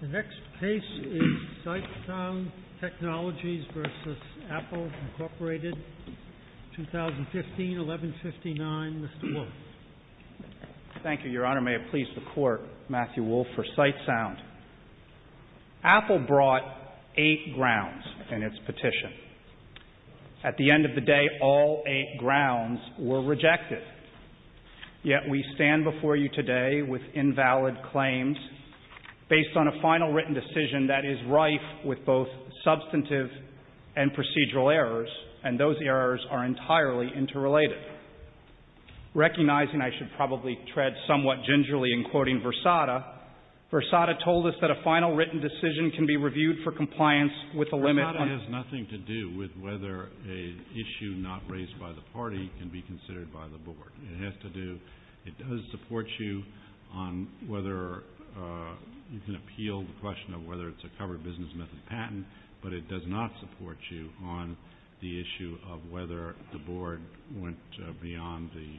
The next case is SightSound Technologies v. Apple, Inc., 2015-1159. Mr. Wolfe. Thank you, Your Honor. May it please the Court, Matthew Wolfe, for SightSound. Apple brought eight grounds in its petition. At the end of the day, all eight grounds were rejected. Yet we stand before you today with invalid claims based on a final written decision that is rife with both substantive and procedural errors, and those errors are entirely interrelated. Recognizing I should probably tread somewhat gingerly in quoting Versada, Versada told us that a final written decision can be reviewed for compliance with a limit on whether a issue not raised by the party can be considered by the Board. It has to do, it does support you on whether you can appeal the question of whether it's a covered business method patent, but it does not support you on the issue of whether the Board went beyond the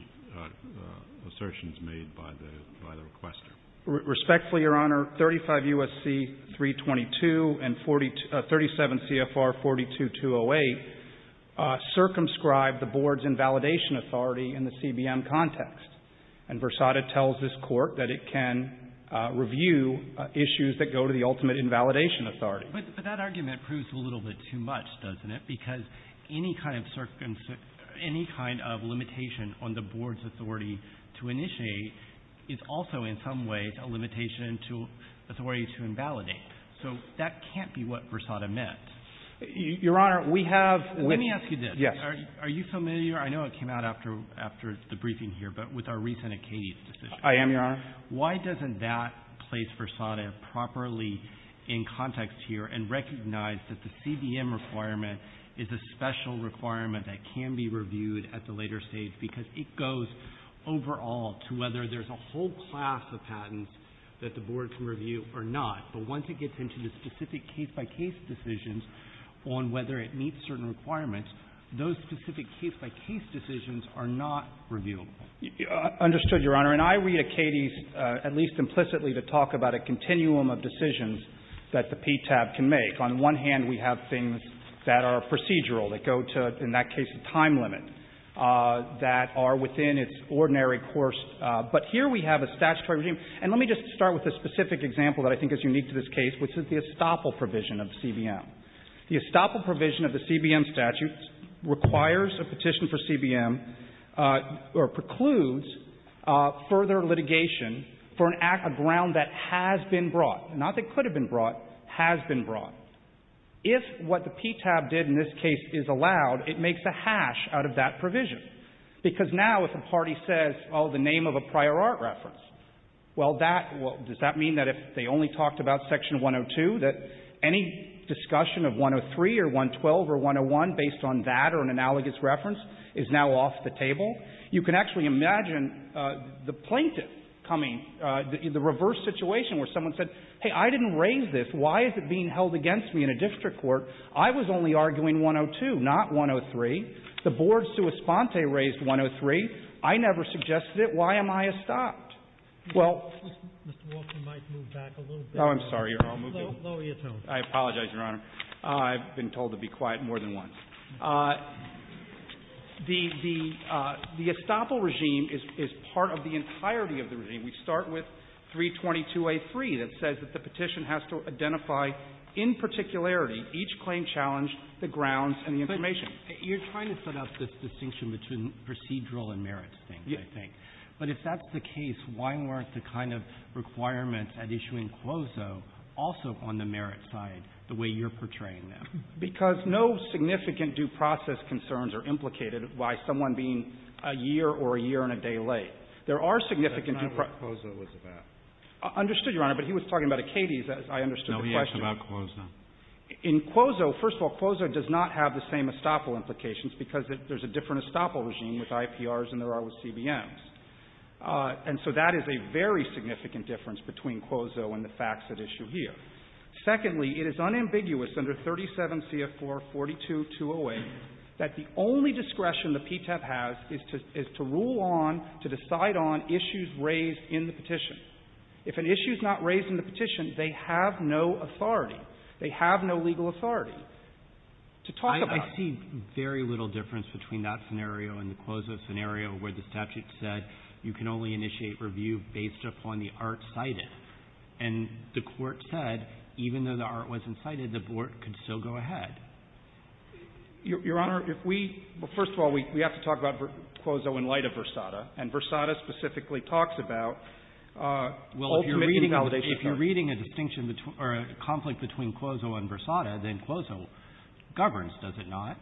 assertions made by the requester. Respectfully, Your Honor, 35 U.S.C. 322 and 37 CFR 42-208 circumscribe the Board's invalidation authority in the CBM context. And Versada tells this Court that it can review issues that go to the ultimate invalidation authority. But that argument proves a little bit too much, doesn't it? Because any kind of limitation on the Board's authority to initiate is also in some ways a limitation to authority to invalidate. So that can't be what Versada meant. Your Honor, we have – Let me ask you this. Yes. Are you familiar – I know it came out after the briefing here, but with our recent Acadia decision. I am, Your Honor. Why doesn't that place Versada properly in context here and recognize that the CBM requirement is a special requirement that can be reviewed at the later stage? Because it goes overall to whether there's a whole class of patents that the Board can review or not. But once it gets into the specific case-by-case decisions on whether it meets certain requirements, those specific case-by-case decisions are not reviewable. Understood, Your Honor. And I read Acadia at least implicitly to talk about a continuum of decisions that the PTAB can make. On one hand, we have things that are procedural, that go to, in that case, a time limit, that are within its ordinary course. But here we have a statutory regime. And let me just start with a specific example that I think is unique to this case, which is the estoppel provision of the CBM. The estoppel provision of the CBM statute requires a petition for CBM or precludes further litigation for an act, a ground that has been brought. Not that could have been brought. Has been brought. If what the PTAB did in this case is allowed, it makes a hash out of that provision. Because now if a party says, oh, the name of a prior art reference, well, that — well, does that mean that if they only talked about section 102, that any discussion of 103 or 112 or 101 based on that or an analogous reference is now off the table? You can actually imagine the plaintiff coming — the reverse situation where someone said, hey, I didn't raise this. Why is it being held against me in a district court? I was only arguing 102, not 103. The board sua sponte raised 103. I never suggested it. Why am I estopped? Well — Mr. Walker, you might move back a little bit. Oh, I'm sorry. You're all moving? Lower your tone. I apologize, Your Honor. I've been told to be quiet more than once. The — the estoppel regime is part of the entirety of the regime. We start with 322a3 that says that the petition has to identify in particularity each claim challenged, the grounds, and the information. But you're trying to set up this distinction between procedural and merits things, I think. But if that's the case, why weren't the kind of requirements at issue in Quozo also on the merits side, the way you're portraying them? Because no significant due process concerns are implicated by someone being a year or a year and a day late. There are significant due — That's not what Quozo was about. Understood, Your Honor. But he was talking about Acades. I understood the question. No, he asked about Quozo. In Quozo, first of all, Quozo does not have the same estoppel implications because there's a different estoppel regime with IPRs than there are with CBMs. And so that is a very significant difference between Quozo and the facts at issue here. Secondly, it is unambiguous under 37c of 442208 that the only discretion the PTEP has is to — is to rule on, to decide on issues raised in the petition. If an issue is not raised in the petition, they have no authority. They have no legal authority to talk about it. I see very little difference between that scenario and the Quozo scenario where the statute said you can only initiate review based upon the art cited. And the Court said even though the art wasn't cited, the Court could still go ahead. Your Honor, if we — well, first of all, we have to talk about Quozo in light of Versada. And Versada specifically talks about — Well, if you're reading —— ultimate invalidation. If you're reading a distinction between — or a conflict between Quozo and Versada, then Quozo governs, does it not?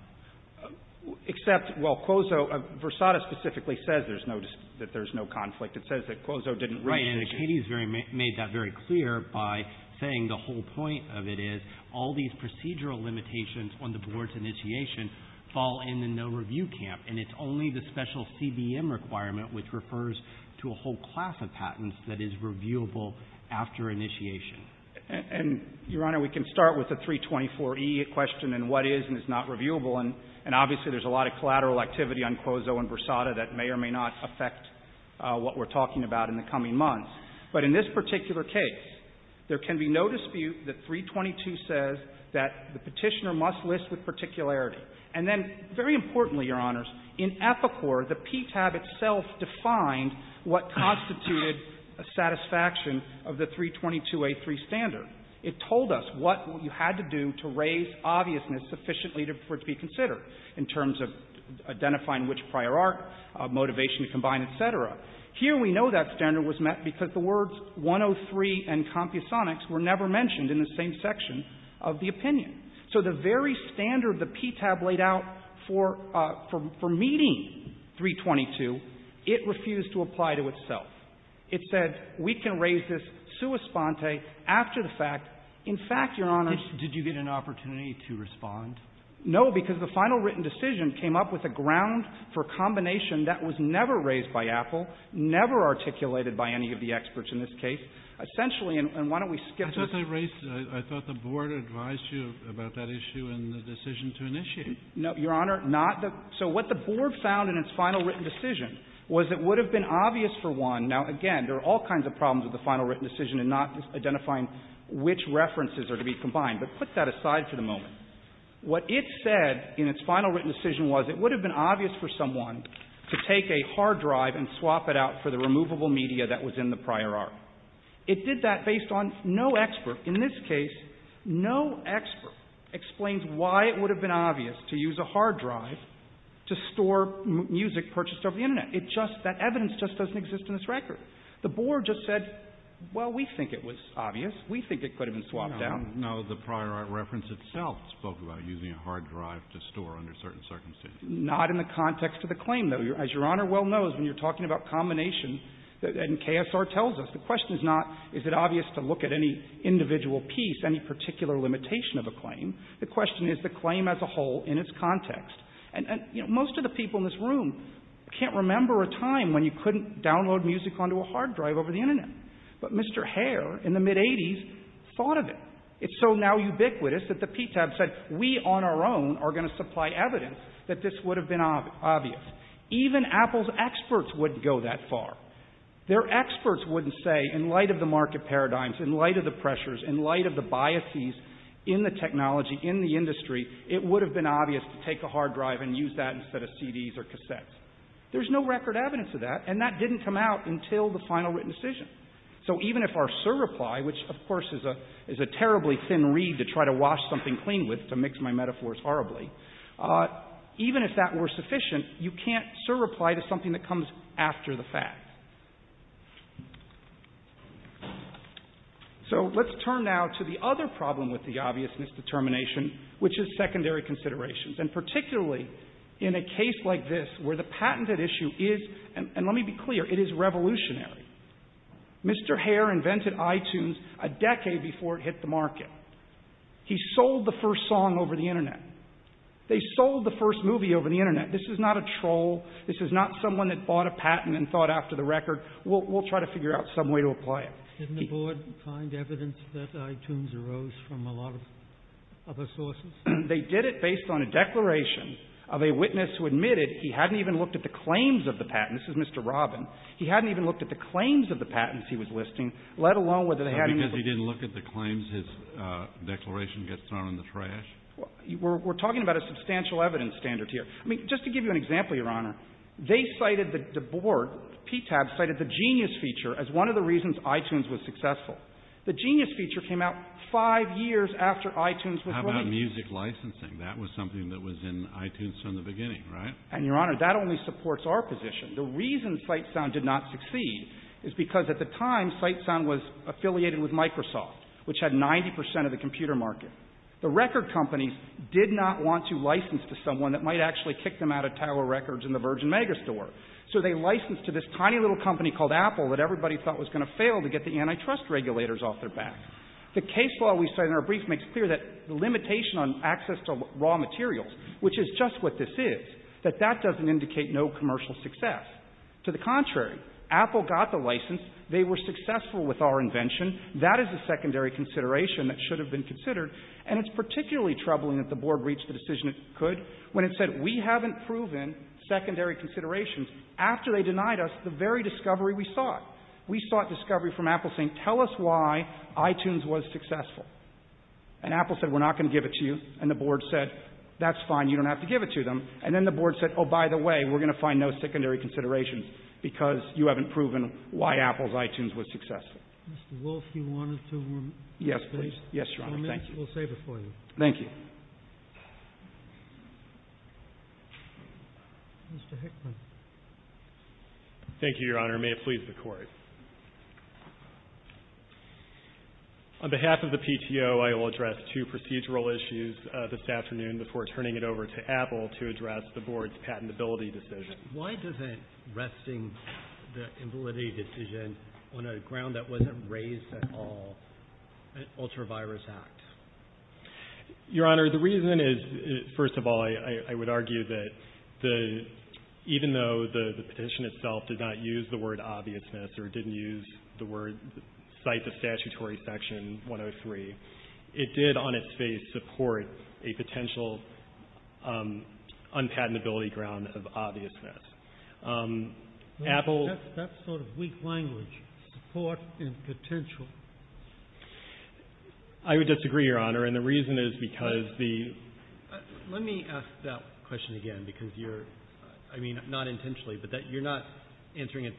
Except, well, Quozo — Versada specifically says there's no — that there's no conflict. It says that Quozo didn't raise the issue. Right. And Katie's very — made that very clear by saying the whole point of it is all these procedural limitations on the Board's initiation fall in the no-review camp, and it's only the special CBM requirement which refers to a whole class of patents that is reviewable after initiation. And, Your Honor, we can start with the 324e question and what is and is not reviewable. And obviously there's a lot of collateral activity on Quozo and Versada that may or may not affect what we're talking about in the coming months. But in this particular case, there can be no dispute that 322 says that the Petitioner must list with particularity. And then, very importantly, Your Honors, in Epicor, the PTAB itself defined what of the 322a3 standard. It told us what you had to do to raise obviousness sufficiently for it to be considered in terms of identifying which prior art, motivation to combine, et cetera. Here we know that standard was met because the words 103 and compusonics were never mentioned in the same section of the opinion. So the very standard the PTAB laid out for — for — for meeting 322, it refused to apply to itself. It said we can raise this sua sponte after the fact. In fact, Your Honors — Did you get an opportunity to respond? No, because the final written decision came up with a ground for a combination that was never raised by Apple, never articulated by any of the experts in this case. Essentially — and why don't we skip to — I thought they raised — I thought the Board advised you about that issue in the decision to initiate. No, Your Honor, not the — so what the Board found in its final written decision was it would have been obvious for one — now, again, there are all kinds of problems with the final written decision in not identifying which references are to be combined, but put that aside for the moment. What it said in its final written decision was it would have been obvious for someone to take a hard drive and swap it out for the removable media that was in the prior art. It did that based on no expert. In this case, no expert explains why it would have been obvious to use a hard drive to store music purchased over the Internet. It just — that evidence just doesn't exist in this record. The Board just said, well, we think it was obvious. We think it could have been swapped out. No, the prior art reference itself spoke about using a hard drive to store under certain circumstances. Not in the context of the claim, though. As Your Honor well knows, when you're talking about combination, and KSR tells us, the question is not is it obvious to look at any individual piece, any particular limitation of a claim. The question is the claim as a whole in its context. And, you know, most of the people in this room can't remember a time when you couldn't download music onto a hard drive over the Internet. But Mr. Hare in the mid-'80s thought of it. It's so now ubiquitous that the PTAB said we on our own are going to supply evidence that this would have been obvious. Even Apple's experts wouldn't go that far. Their experts wouldn't say in light of the market paradigms, in light of the pressures, in light of the biases in the technology, in the industry, it would have been obvious to take a hard drive and use that instead of CDs or cassettes. There's no record evidence of that, and that didn't come out until the final written decision. So even if our surreply, which, of course, is a terribly thin reed to try to wash something clean with to mix my metaphors horribly, even if that were sufficient, you can't surreply to something that comes after the fact. So let's turn now to the other problem with the obvious misdetermination, which is secondary considerations. And particularly in a case like this where the patented issue is, and let me be clear, it is revolutionary. Mr. Hare invented iTunes a decade before it hit the market. He sold the first song over the Internet. They sold the first movie over the Internet. This is not a troll. This is not someone that bought a patent and thought after the record, we'll try to figure out some way to apply it. Didn't the Board find evidence that iTunes arose from a lot of other sources? They did it based on a declaration of a witness who admitted he hadn't even looked at the claims of the patent. This is Mr. Robin. He hadn't even looked at the claims of the patents he was listing, let alone whether they had any of the ---- Because he didn't look at the claims his declaration gets thrown in the trash? We're talking about a substantial evidence standard here. I mean, just to give you an example, Your Honor, they cited the Board, PTAB cited the genius feature as one of the reasons iTunes was successful. The genius feature came out five years after iTunes was released. How about music licensing? That was something that was in iTunes from the beginning, right? And, Your Honor, that only supports our position. The reason Sitesound did not succeed is because at the time, Sitesound was affiliated with Microsoft, which had 90 percent of the computer market. The record companies did not want to license to someone that might actually kick them out of Tower Records and the Virgin Megastore. So they licensed to this tiny little company called Apple that everybody thought was going to fail to get the antitrust regulators off their back. The case law we cite in our brief makes clear that the limitation on access to raw materials, which is just what this is, that that doesn't indicate no commercial success. To the contrary, Apple got the license. They were successful with our invention. That is a secondary consideration that should have been considered. And it's particularly troubling that the Board reached the decision it could when it said, we haven't proven secondary considerations after they denied us the very discovery we sought. We sought discovery from Apple saying, tell us why iTunes was successful. And Apple said, we're not going to give it to you. And the Board said, that's fine. You don't have to give it to them. And then the Board said, oh, by the way, we're going to find no secondary considerations because you haven't proven why Apple's iTunes was successful. Mr. Wolf, you wanted to make a comment? Yes, please. Yes, Your Honor. Thank you. We'll save it for you. Thank you. Mr. Hickman. Thank you, Your Honor. May it please the Court. On behalf of the PTO, I will address two procedural issues this afternoon before turning it over to Apple to address the Board's patentability decision. Why isn't resting the patentability decision on a ground that wasn't raised at all, an ultravirus act? Your Honor, the reason is, first of all, I would argue that even though the petition itself did not use the word obviousness or didn't cite the statutory section 103, it did on its face support a potential unpatentability ground of obviousness. That's sort of weak language, support and potential. I would disagree, Your Honor, and the reason is because the... Let me ask that question again because you're, I mean, not intentionally, but that you're not answering it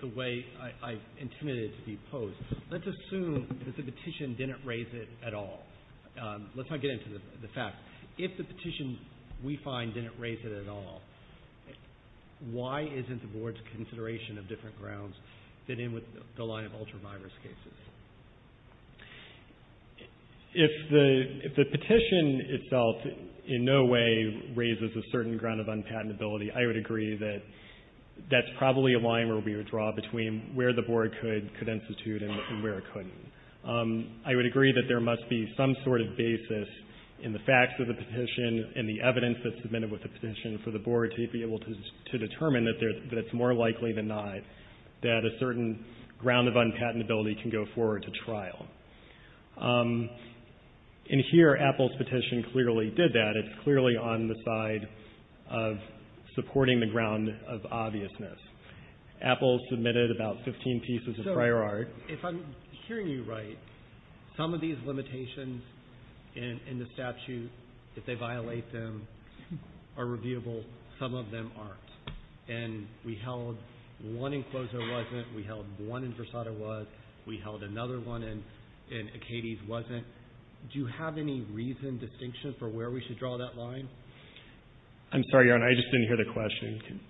the way I intended it to be posed. Let's assume that the petition didn't raise it at all. Let's not get into the facts. If the petition, we find, didn't raise it at all, why isn't the Board's consideration of different grounds fit in with the line of ultravirus cases? If the petition itself in no way raises a certain ground of unpatentability, I would agree that that's probably a line where we would draw between where the Board could institute and where it couldn't. I would agree that there must be some sort of basis in the facts of the petition and the evidence that's submitted with the petition for the Board to be able to determine that it's more likely than not that a certain ground of unpatentability can go forward to trial. And here, Apple's petition clearly did that. It's clearly on the side of supporting the ground of obviousness. Apple submitted about 15 pieces of prior art. If I'm hearing you right, some of these limitations in the statute, if they violate them, are revealable. Some of them aren't. And we held one enclosure wasn't. We held one in Versailles was. We held another one in Acades wasn't. Do you have any reason, distinction, for where we should draw that line? I'm sorry, Your Honor. I just didn't hear the question.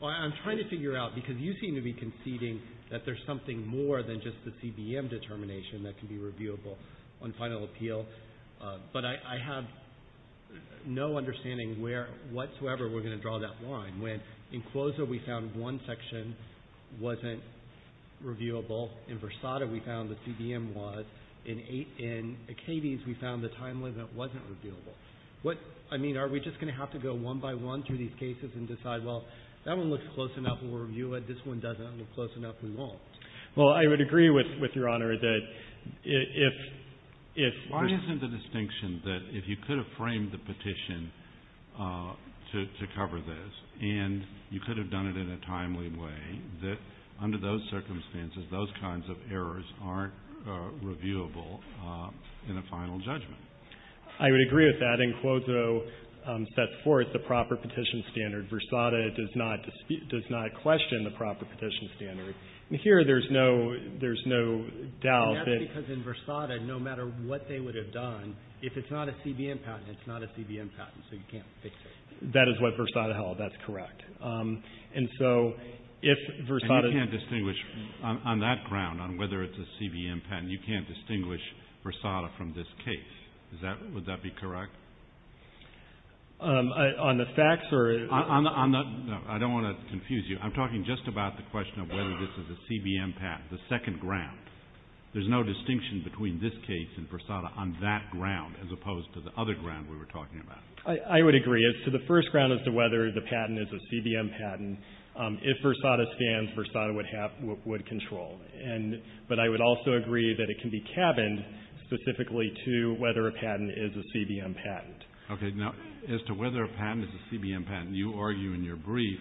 Well, I'm trying to figure out, because you seem to be conceding that there's something more than just the CBM determination that can be revealable on final appeal. But I have no understanding where whatsoever we're going to draw that line. When in Cloza, we found one section wasn't reviewable. In Versailles, we found the CBM was. In Acades, we found the time limit wasn't reviewable. I mean, are we just going to have to go one by one through these cases and decide, well, that one looks close enough. We'll review it. This one doesn't look close enough. We won't. Well, I would agree with Your Honor that if. Why isn't the distinction that if you could have framed the petition to cover this, and you could have done it in a timely way, that under those circumstances, those kinds of errors aren't reviewable in a final judgment? I would agree with that, and Cloza sets forth the proper petition standard. Versailles does not question the proper petition standard. And here, there's no doubt that. That's because in Versailles, no matter what they would have done, if it's not a CBM patent, it's not a CBM patent. So you can't fix it. That is what Versailles held. That's correct. And so if Versailles. And you can't distinguish on that ground on whether it's a CBM patent. You can't distinguish Versailles from this case. Would that be correct? On the facts or... No, I don't want to confuse you. I'm talking just about the question of whether this is a CBM patent, the second ground. There's no distinction between this case and Versailles on that ground as opposed to the other ground we were talking about. I would agree. It's to the first ground as to whether the patent is a CBM patent. If Versailles stands, Versailles would control. But I would also agree that it can be cabined specifically to whether a patent is a CBM patent. Okay. Now, as to whether a patent is a CBM patent, you argue in your brief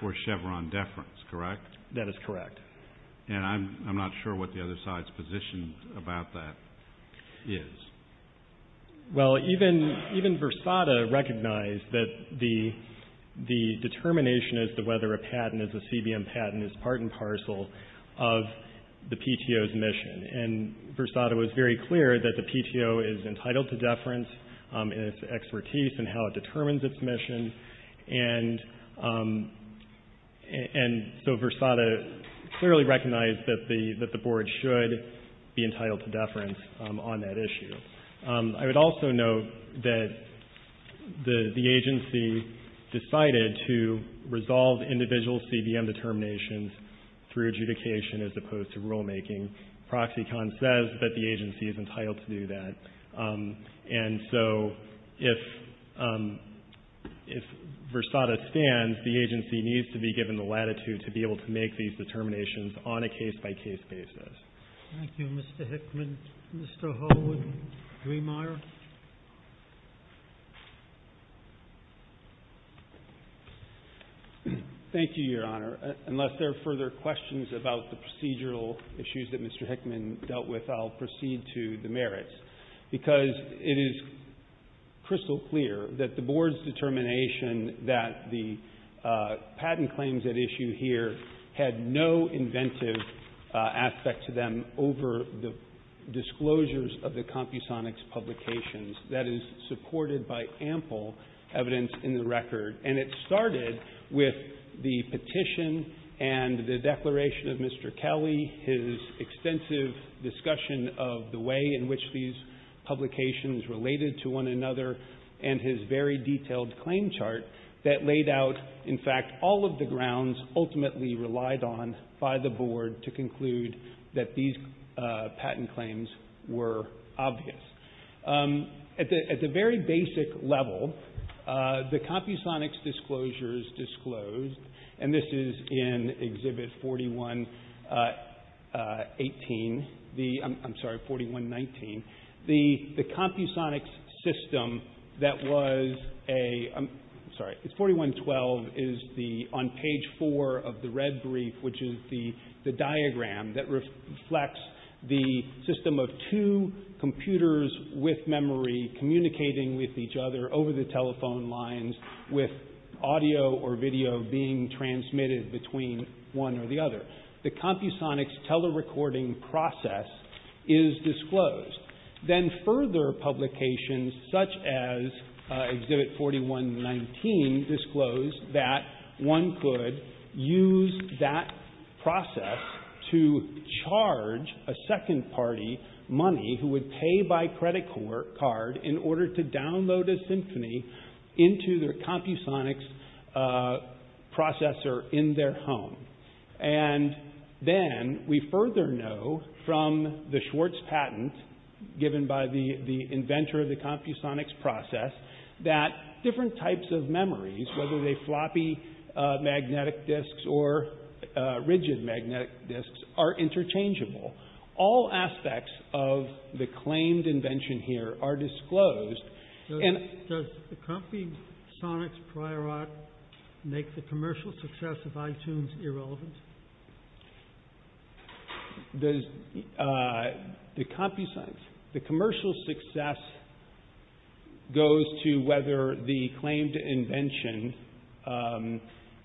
for Chevron deference, correct? That is correct. And I'm not sure what the other side's position about that is. Well, even Versada recognized that the determination as to whether a patent is a CBM patent is part and parcel of the PTO's mission. And Versada was very clear that the PTO is entitled to deference in its expertise and how it determines its mission. And so Versada clearly recognized that the Board should be entitled to deference on that issue. I would also note that the agency decided to resolve individual CBM determinations through adjudication as opposed to rulemaking. ProxyCon says that the agency is entitled to do that. And so if Versada stands, the agency needs to be given the latitude to be able to make these determinations on a case-by-case basis. Thank you, Mr. Hickman. Mr. Holwood-Driemeier? Thank you, Your Honor. Unless there are further questions about the procedural issues that Mr. Hickman dealt with, I'll proceed to the merits. Because it is crystal clear that the Board's determination that the patent claims at issue here had no inventive aspect to them over the disclosures of the CompuSonic's publications. That is supported by ample evidence in the record. And it started with the petition and the declaration of Mr. Kelly, his extensive discussion of the way in which these publications related to one another, and his very detailed claim chart that laid out, in fact, all of the grounds ultimately relied on by the Board to conclude that these patent claims were obvious. At the very basic level, the CompuSonic's disclosures disclosed, and this is in Exhibit 41-18, I'm sorry, 41-19, the CompuSonic's system that was a, I'm sorry, it's 41-12, is the, on page four of the red brief, which is the diagram that reflects the system of two computers with memory communicating with each other over the telephone lines with audio or video being transmitted between one or the other. The CompuSonic's telerecording process is disclosed. Then further publications such as Exhibit 41-19 disclose that one could use that process to charge a second party money who would pay by credit card in order to download a symphony into their CompuSonic's processor in their home. And then we further know from the Schwartz patent given by the inventor of the CompuSonic's process that different types of memories, whether they floppy magnetic discs or rigid magnetic discs, are interchangeable. All aspects of the claimed invention here are disclosed. Does the CompuSonic's prior art make the commercial success of iTunes irrelevant? The CompuSonic's, the commercial success goes to whether the claimed invention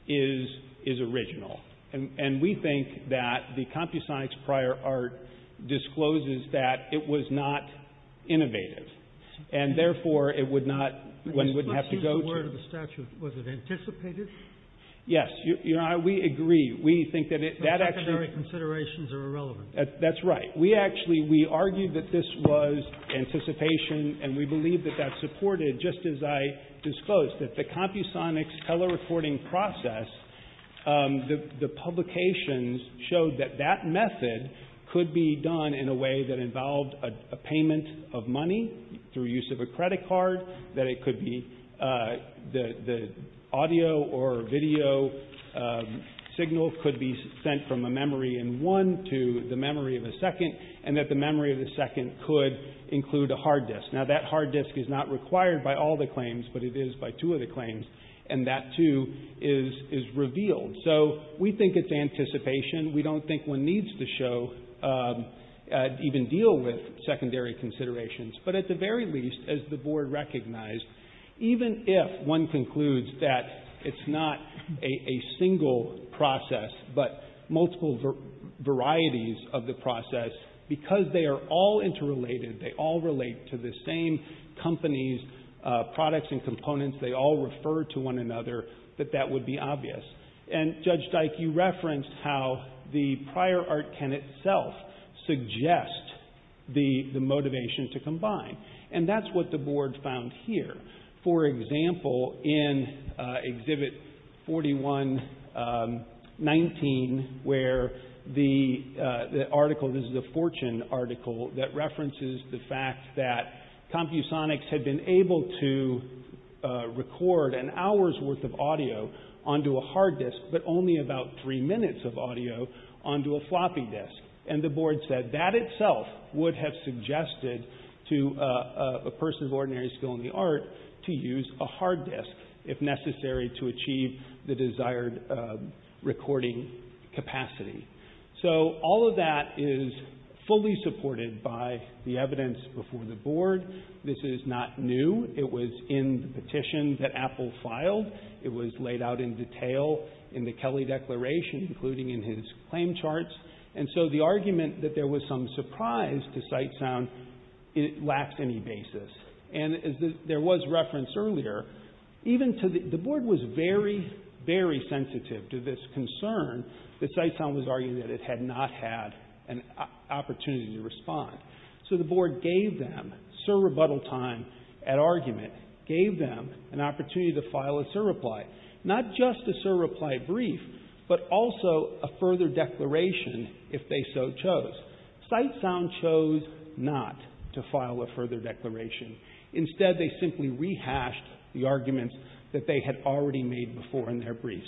is original. And we think that the CompuSonic's prior art discloses that it was not innovative. And therefore, it would not, one wouldn't have to go to the statute. Was it anticipated? Yes. You know, we agree. We think that it, that actually. Secondary considerations are irrelevant. That's right. We actually, we argued that this was anticipation, and we believe that that supported, just as I disclosed, that the CompuSonic's telerecording process, the publications showed that that method could be done in a way that involved a payment of money through use of a credit card, that it could be, the audio or video signal could be sent from a memory in one to the memory of a second, and that the memory of the second could include a hard disk. Now, that hard disk is not required by all the claims, but it is by two of the claims, and that too is revealed. So we think it's anticipation. We don't think one needs to show, even deal with secondary considerations. But at the very least, as the Board recognized, even if one concludes that it's not a single process, but multiple varieties of the process, because they are all interrelated, they all relate to the same companies, products and components, they all refer to one another, that that would be obvious. And Judge Dyke, you referenced how the prior art can itself suggest the motivation to combine. And that's what the Board found here. For example, in Exhibit 41-19, where the article, this is a Fortune article, that references the fact that Compusonics had been able to record an hour's worth of audio onto a hard disk, but only about three minutes of audio onto a floppy disk. And the Board said that itself would have suggested to a person of ordinary skill in the art to use a hard disk, if necessary, to achieve the desired recording capacity. So all of that is fully supported by the evidence before the Board. This is not new. It was in the petition that Apple filed. It was laid out in detail in the Kelly Declaration, including in his claim charts. And so the argument that there was some surprise to Sitesound lacks any basis. And as there was reference earlier, even to the — the Board was very, very sensitive to this concern that Sitesound was arguing that it had not had an opportunity to respond. So the Board gave them, sur rebuttal time at argument, gave them an opportunity to file a sur reply, not just a sur reply brief, but also a further declaration if they so chose. Sitesound chose not to file a further declaration. Instead, they simply rehashed the arguments that they had already made before in their briefs.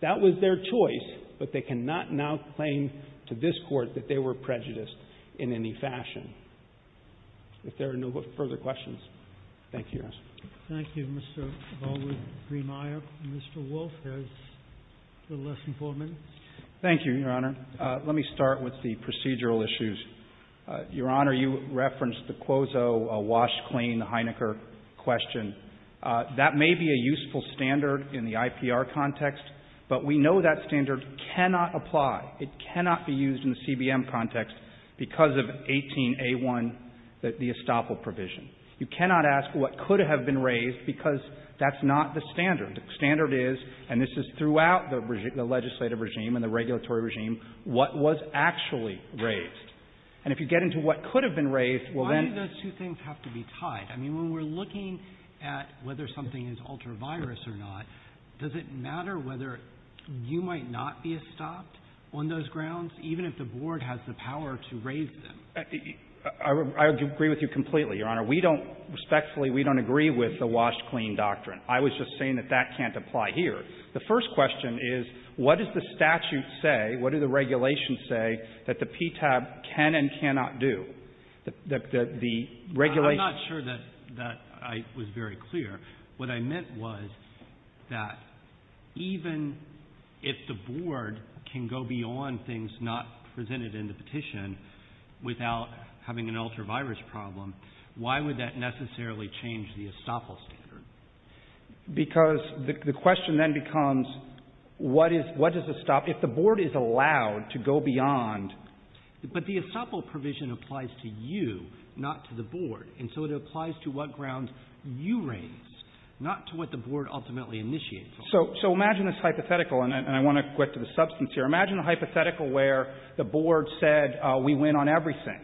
That was their choice, but they cannot now claim to this Court that they were prejudiced in any fashion. If there are no further questions. Thank you, Your Honor. Thank you, Mr. Baldwin-Briemeier. Mr. Wolf has a little less than four minutes. Thank you, Your Honor. Let me start with the procedural issues. Your Honor, you referenced the Quozo wash-clean, the Heinecker question. That may be a useful standard in the IPR context, but we know that standard cannot apply. It cannot be used in the CBM context because of 18a1, the estoppel provision. You cannot ask what could have been raised because that's not the standard. The standard is, and this is throughout the legislative regime and the regulatory regime, what was actually raised. And if you get into what could have been raised, well, then — Why do those two things have to be tied? I mean, when we're looking at whether something is ultra-virus or not, does it matter whether you might not be estopped on those grounds, even if the Board has the power to raise them? I would agree with you completely, Your Honor. We don't — respectfully, we don't agree with the wash-clean doctrine. I was just saying that that can't apply here. The first question is, what does the statute say, what do the regulations say, that the PTAB can and cannot do? The regulation — I'm not sure that I was very clear. What I meant was that even if the Board can go beyond things not presented in the petition without having an ultra-virus problem, why would that necessarily change the estoppel standard? Because the question then becomes, what is — what does estoppel — if the Board is allowed to go beyond — But the estoppel provision applies to you, not to the Board. And so it applies to what grounds you raise, not to what the Board ultimately initiates on. So imagine this hypothetical, and I want to get to the substance here. Imagine a hypothetical where the Board said, we win on everything.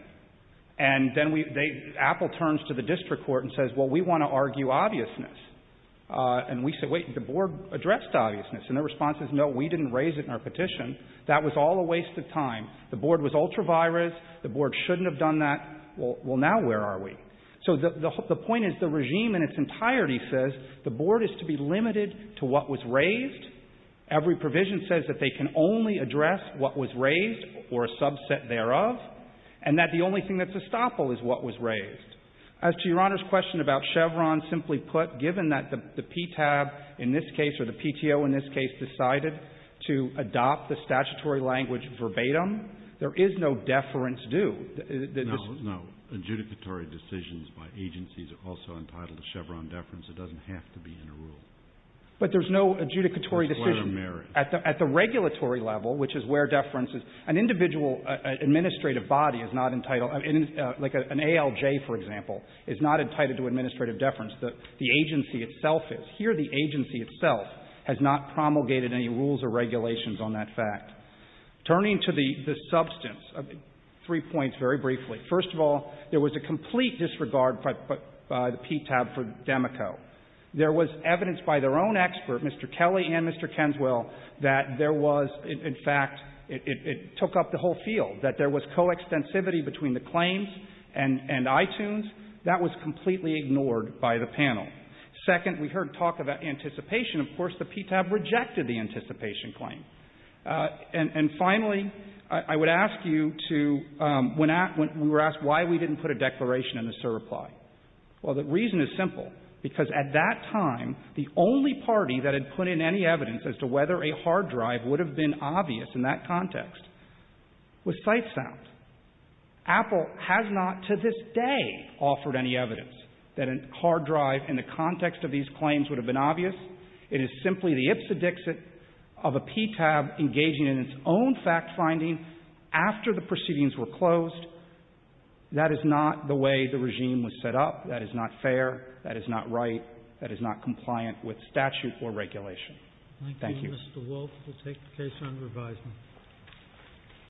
And then we — they — Apple turns to the district court and says, well, we want to argue obviousness. And we say, wait, the Board addressed obviousness. And their response is, no, we didn't raise it in our petition. That was all a waste of time. The Board was ultra-virus. The Board shouldn't have done that. Well, now where are we? So the — the point is, the regime in its entirety says the Board is to be limited to what was raised. Every provision says that they can only address what was raised or a subset thereof. And that the only thing that's estoppel is what was raised. As to Your Honor's question about Chevron, simply put, given that the PTAB in this case or the PTO in this case decided to adopt the statutory language verbatim, there is no deference due. The — No, no. Adjudicatory decisions by agencies are also entitled to Chevron deference. It doesn't have to be in a rule. But there's no adjudicatory decision — It's where they're married. At the — at the regulatory level, which is where deference is, an individual administrative body is not entitled — like an ALJ, for example, is not entitled to administrative deference. The agency itself is. Here the agency itself has not promulgated any rules or regulations on that fact. Turning to the substance, three points very briefly. First of all, there was a complete disregard by the PTAB for Demico. There was evidence by their own expert, Mr. Kelly and Mr. Kenswell, that there was — in fact, it took up the whole field, that there was coextensivity between the claims and iTunes. That was completely ignored by the panel. Second, we heard talk about anticipation. Of course, the PTAB rejected the anticipation claim. And finally, I would ask you to — we were asked why we didn't put a declaration in the SIR reply. Well, the reason is simple. Because at that time, the only party that had put in any evidence as to whether a hard drive would have been obvious in that context was Sitesound. Apple has not to this day offered any evidence that a hard drive in the context of these claims would have been obvious. It is simply the ipsedixit of a PTAB engaging in its own fact-finding after the proceedings were closed. That is not the way the regime was set up. That is not fair. That is not right. That is not compliant with statute or regulation. Thank you. Thank you, Mr. Wolff. We'll take the case under advisement.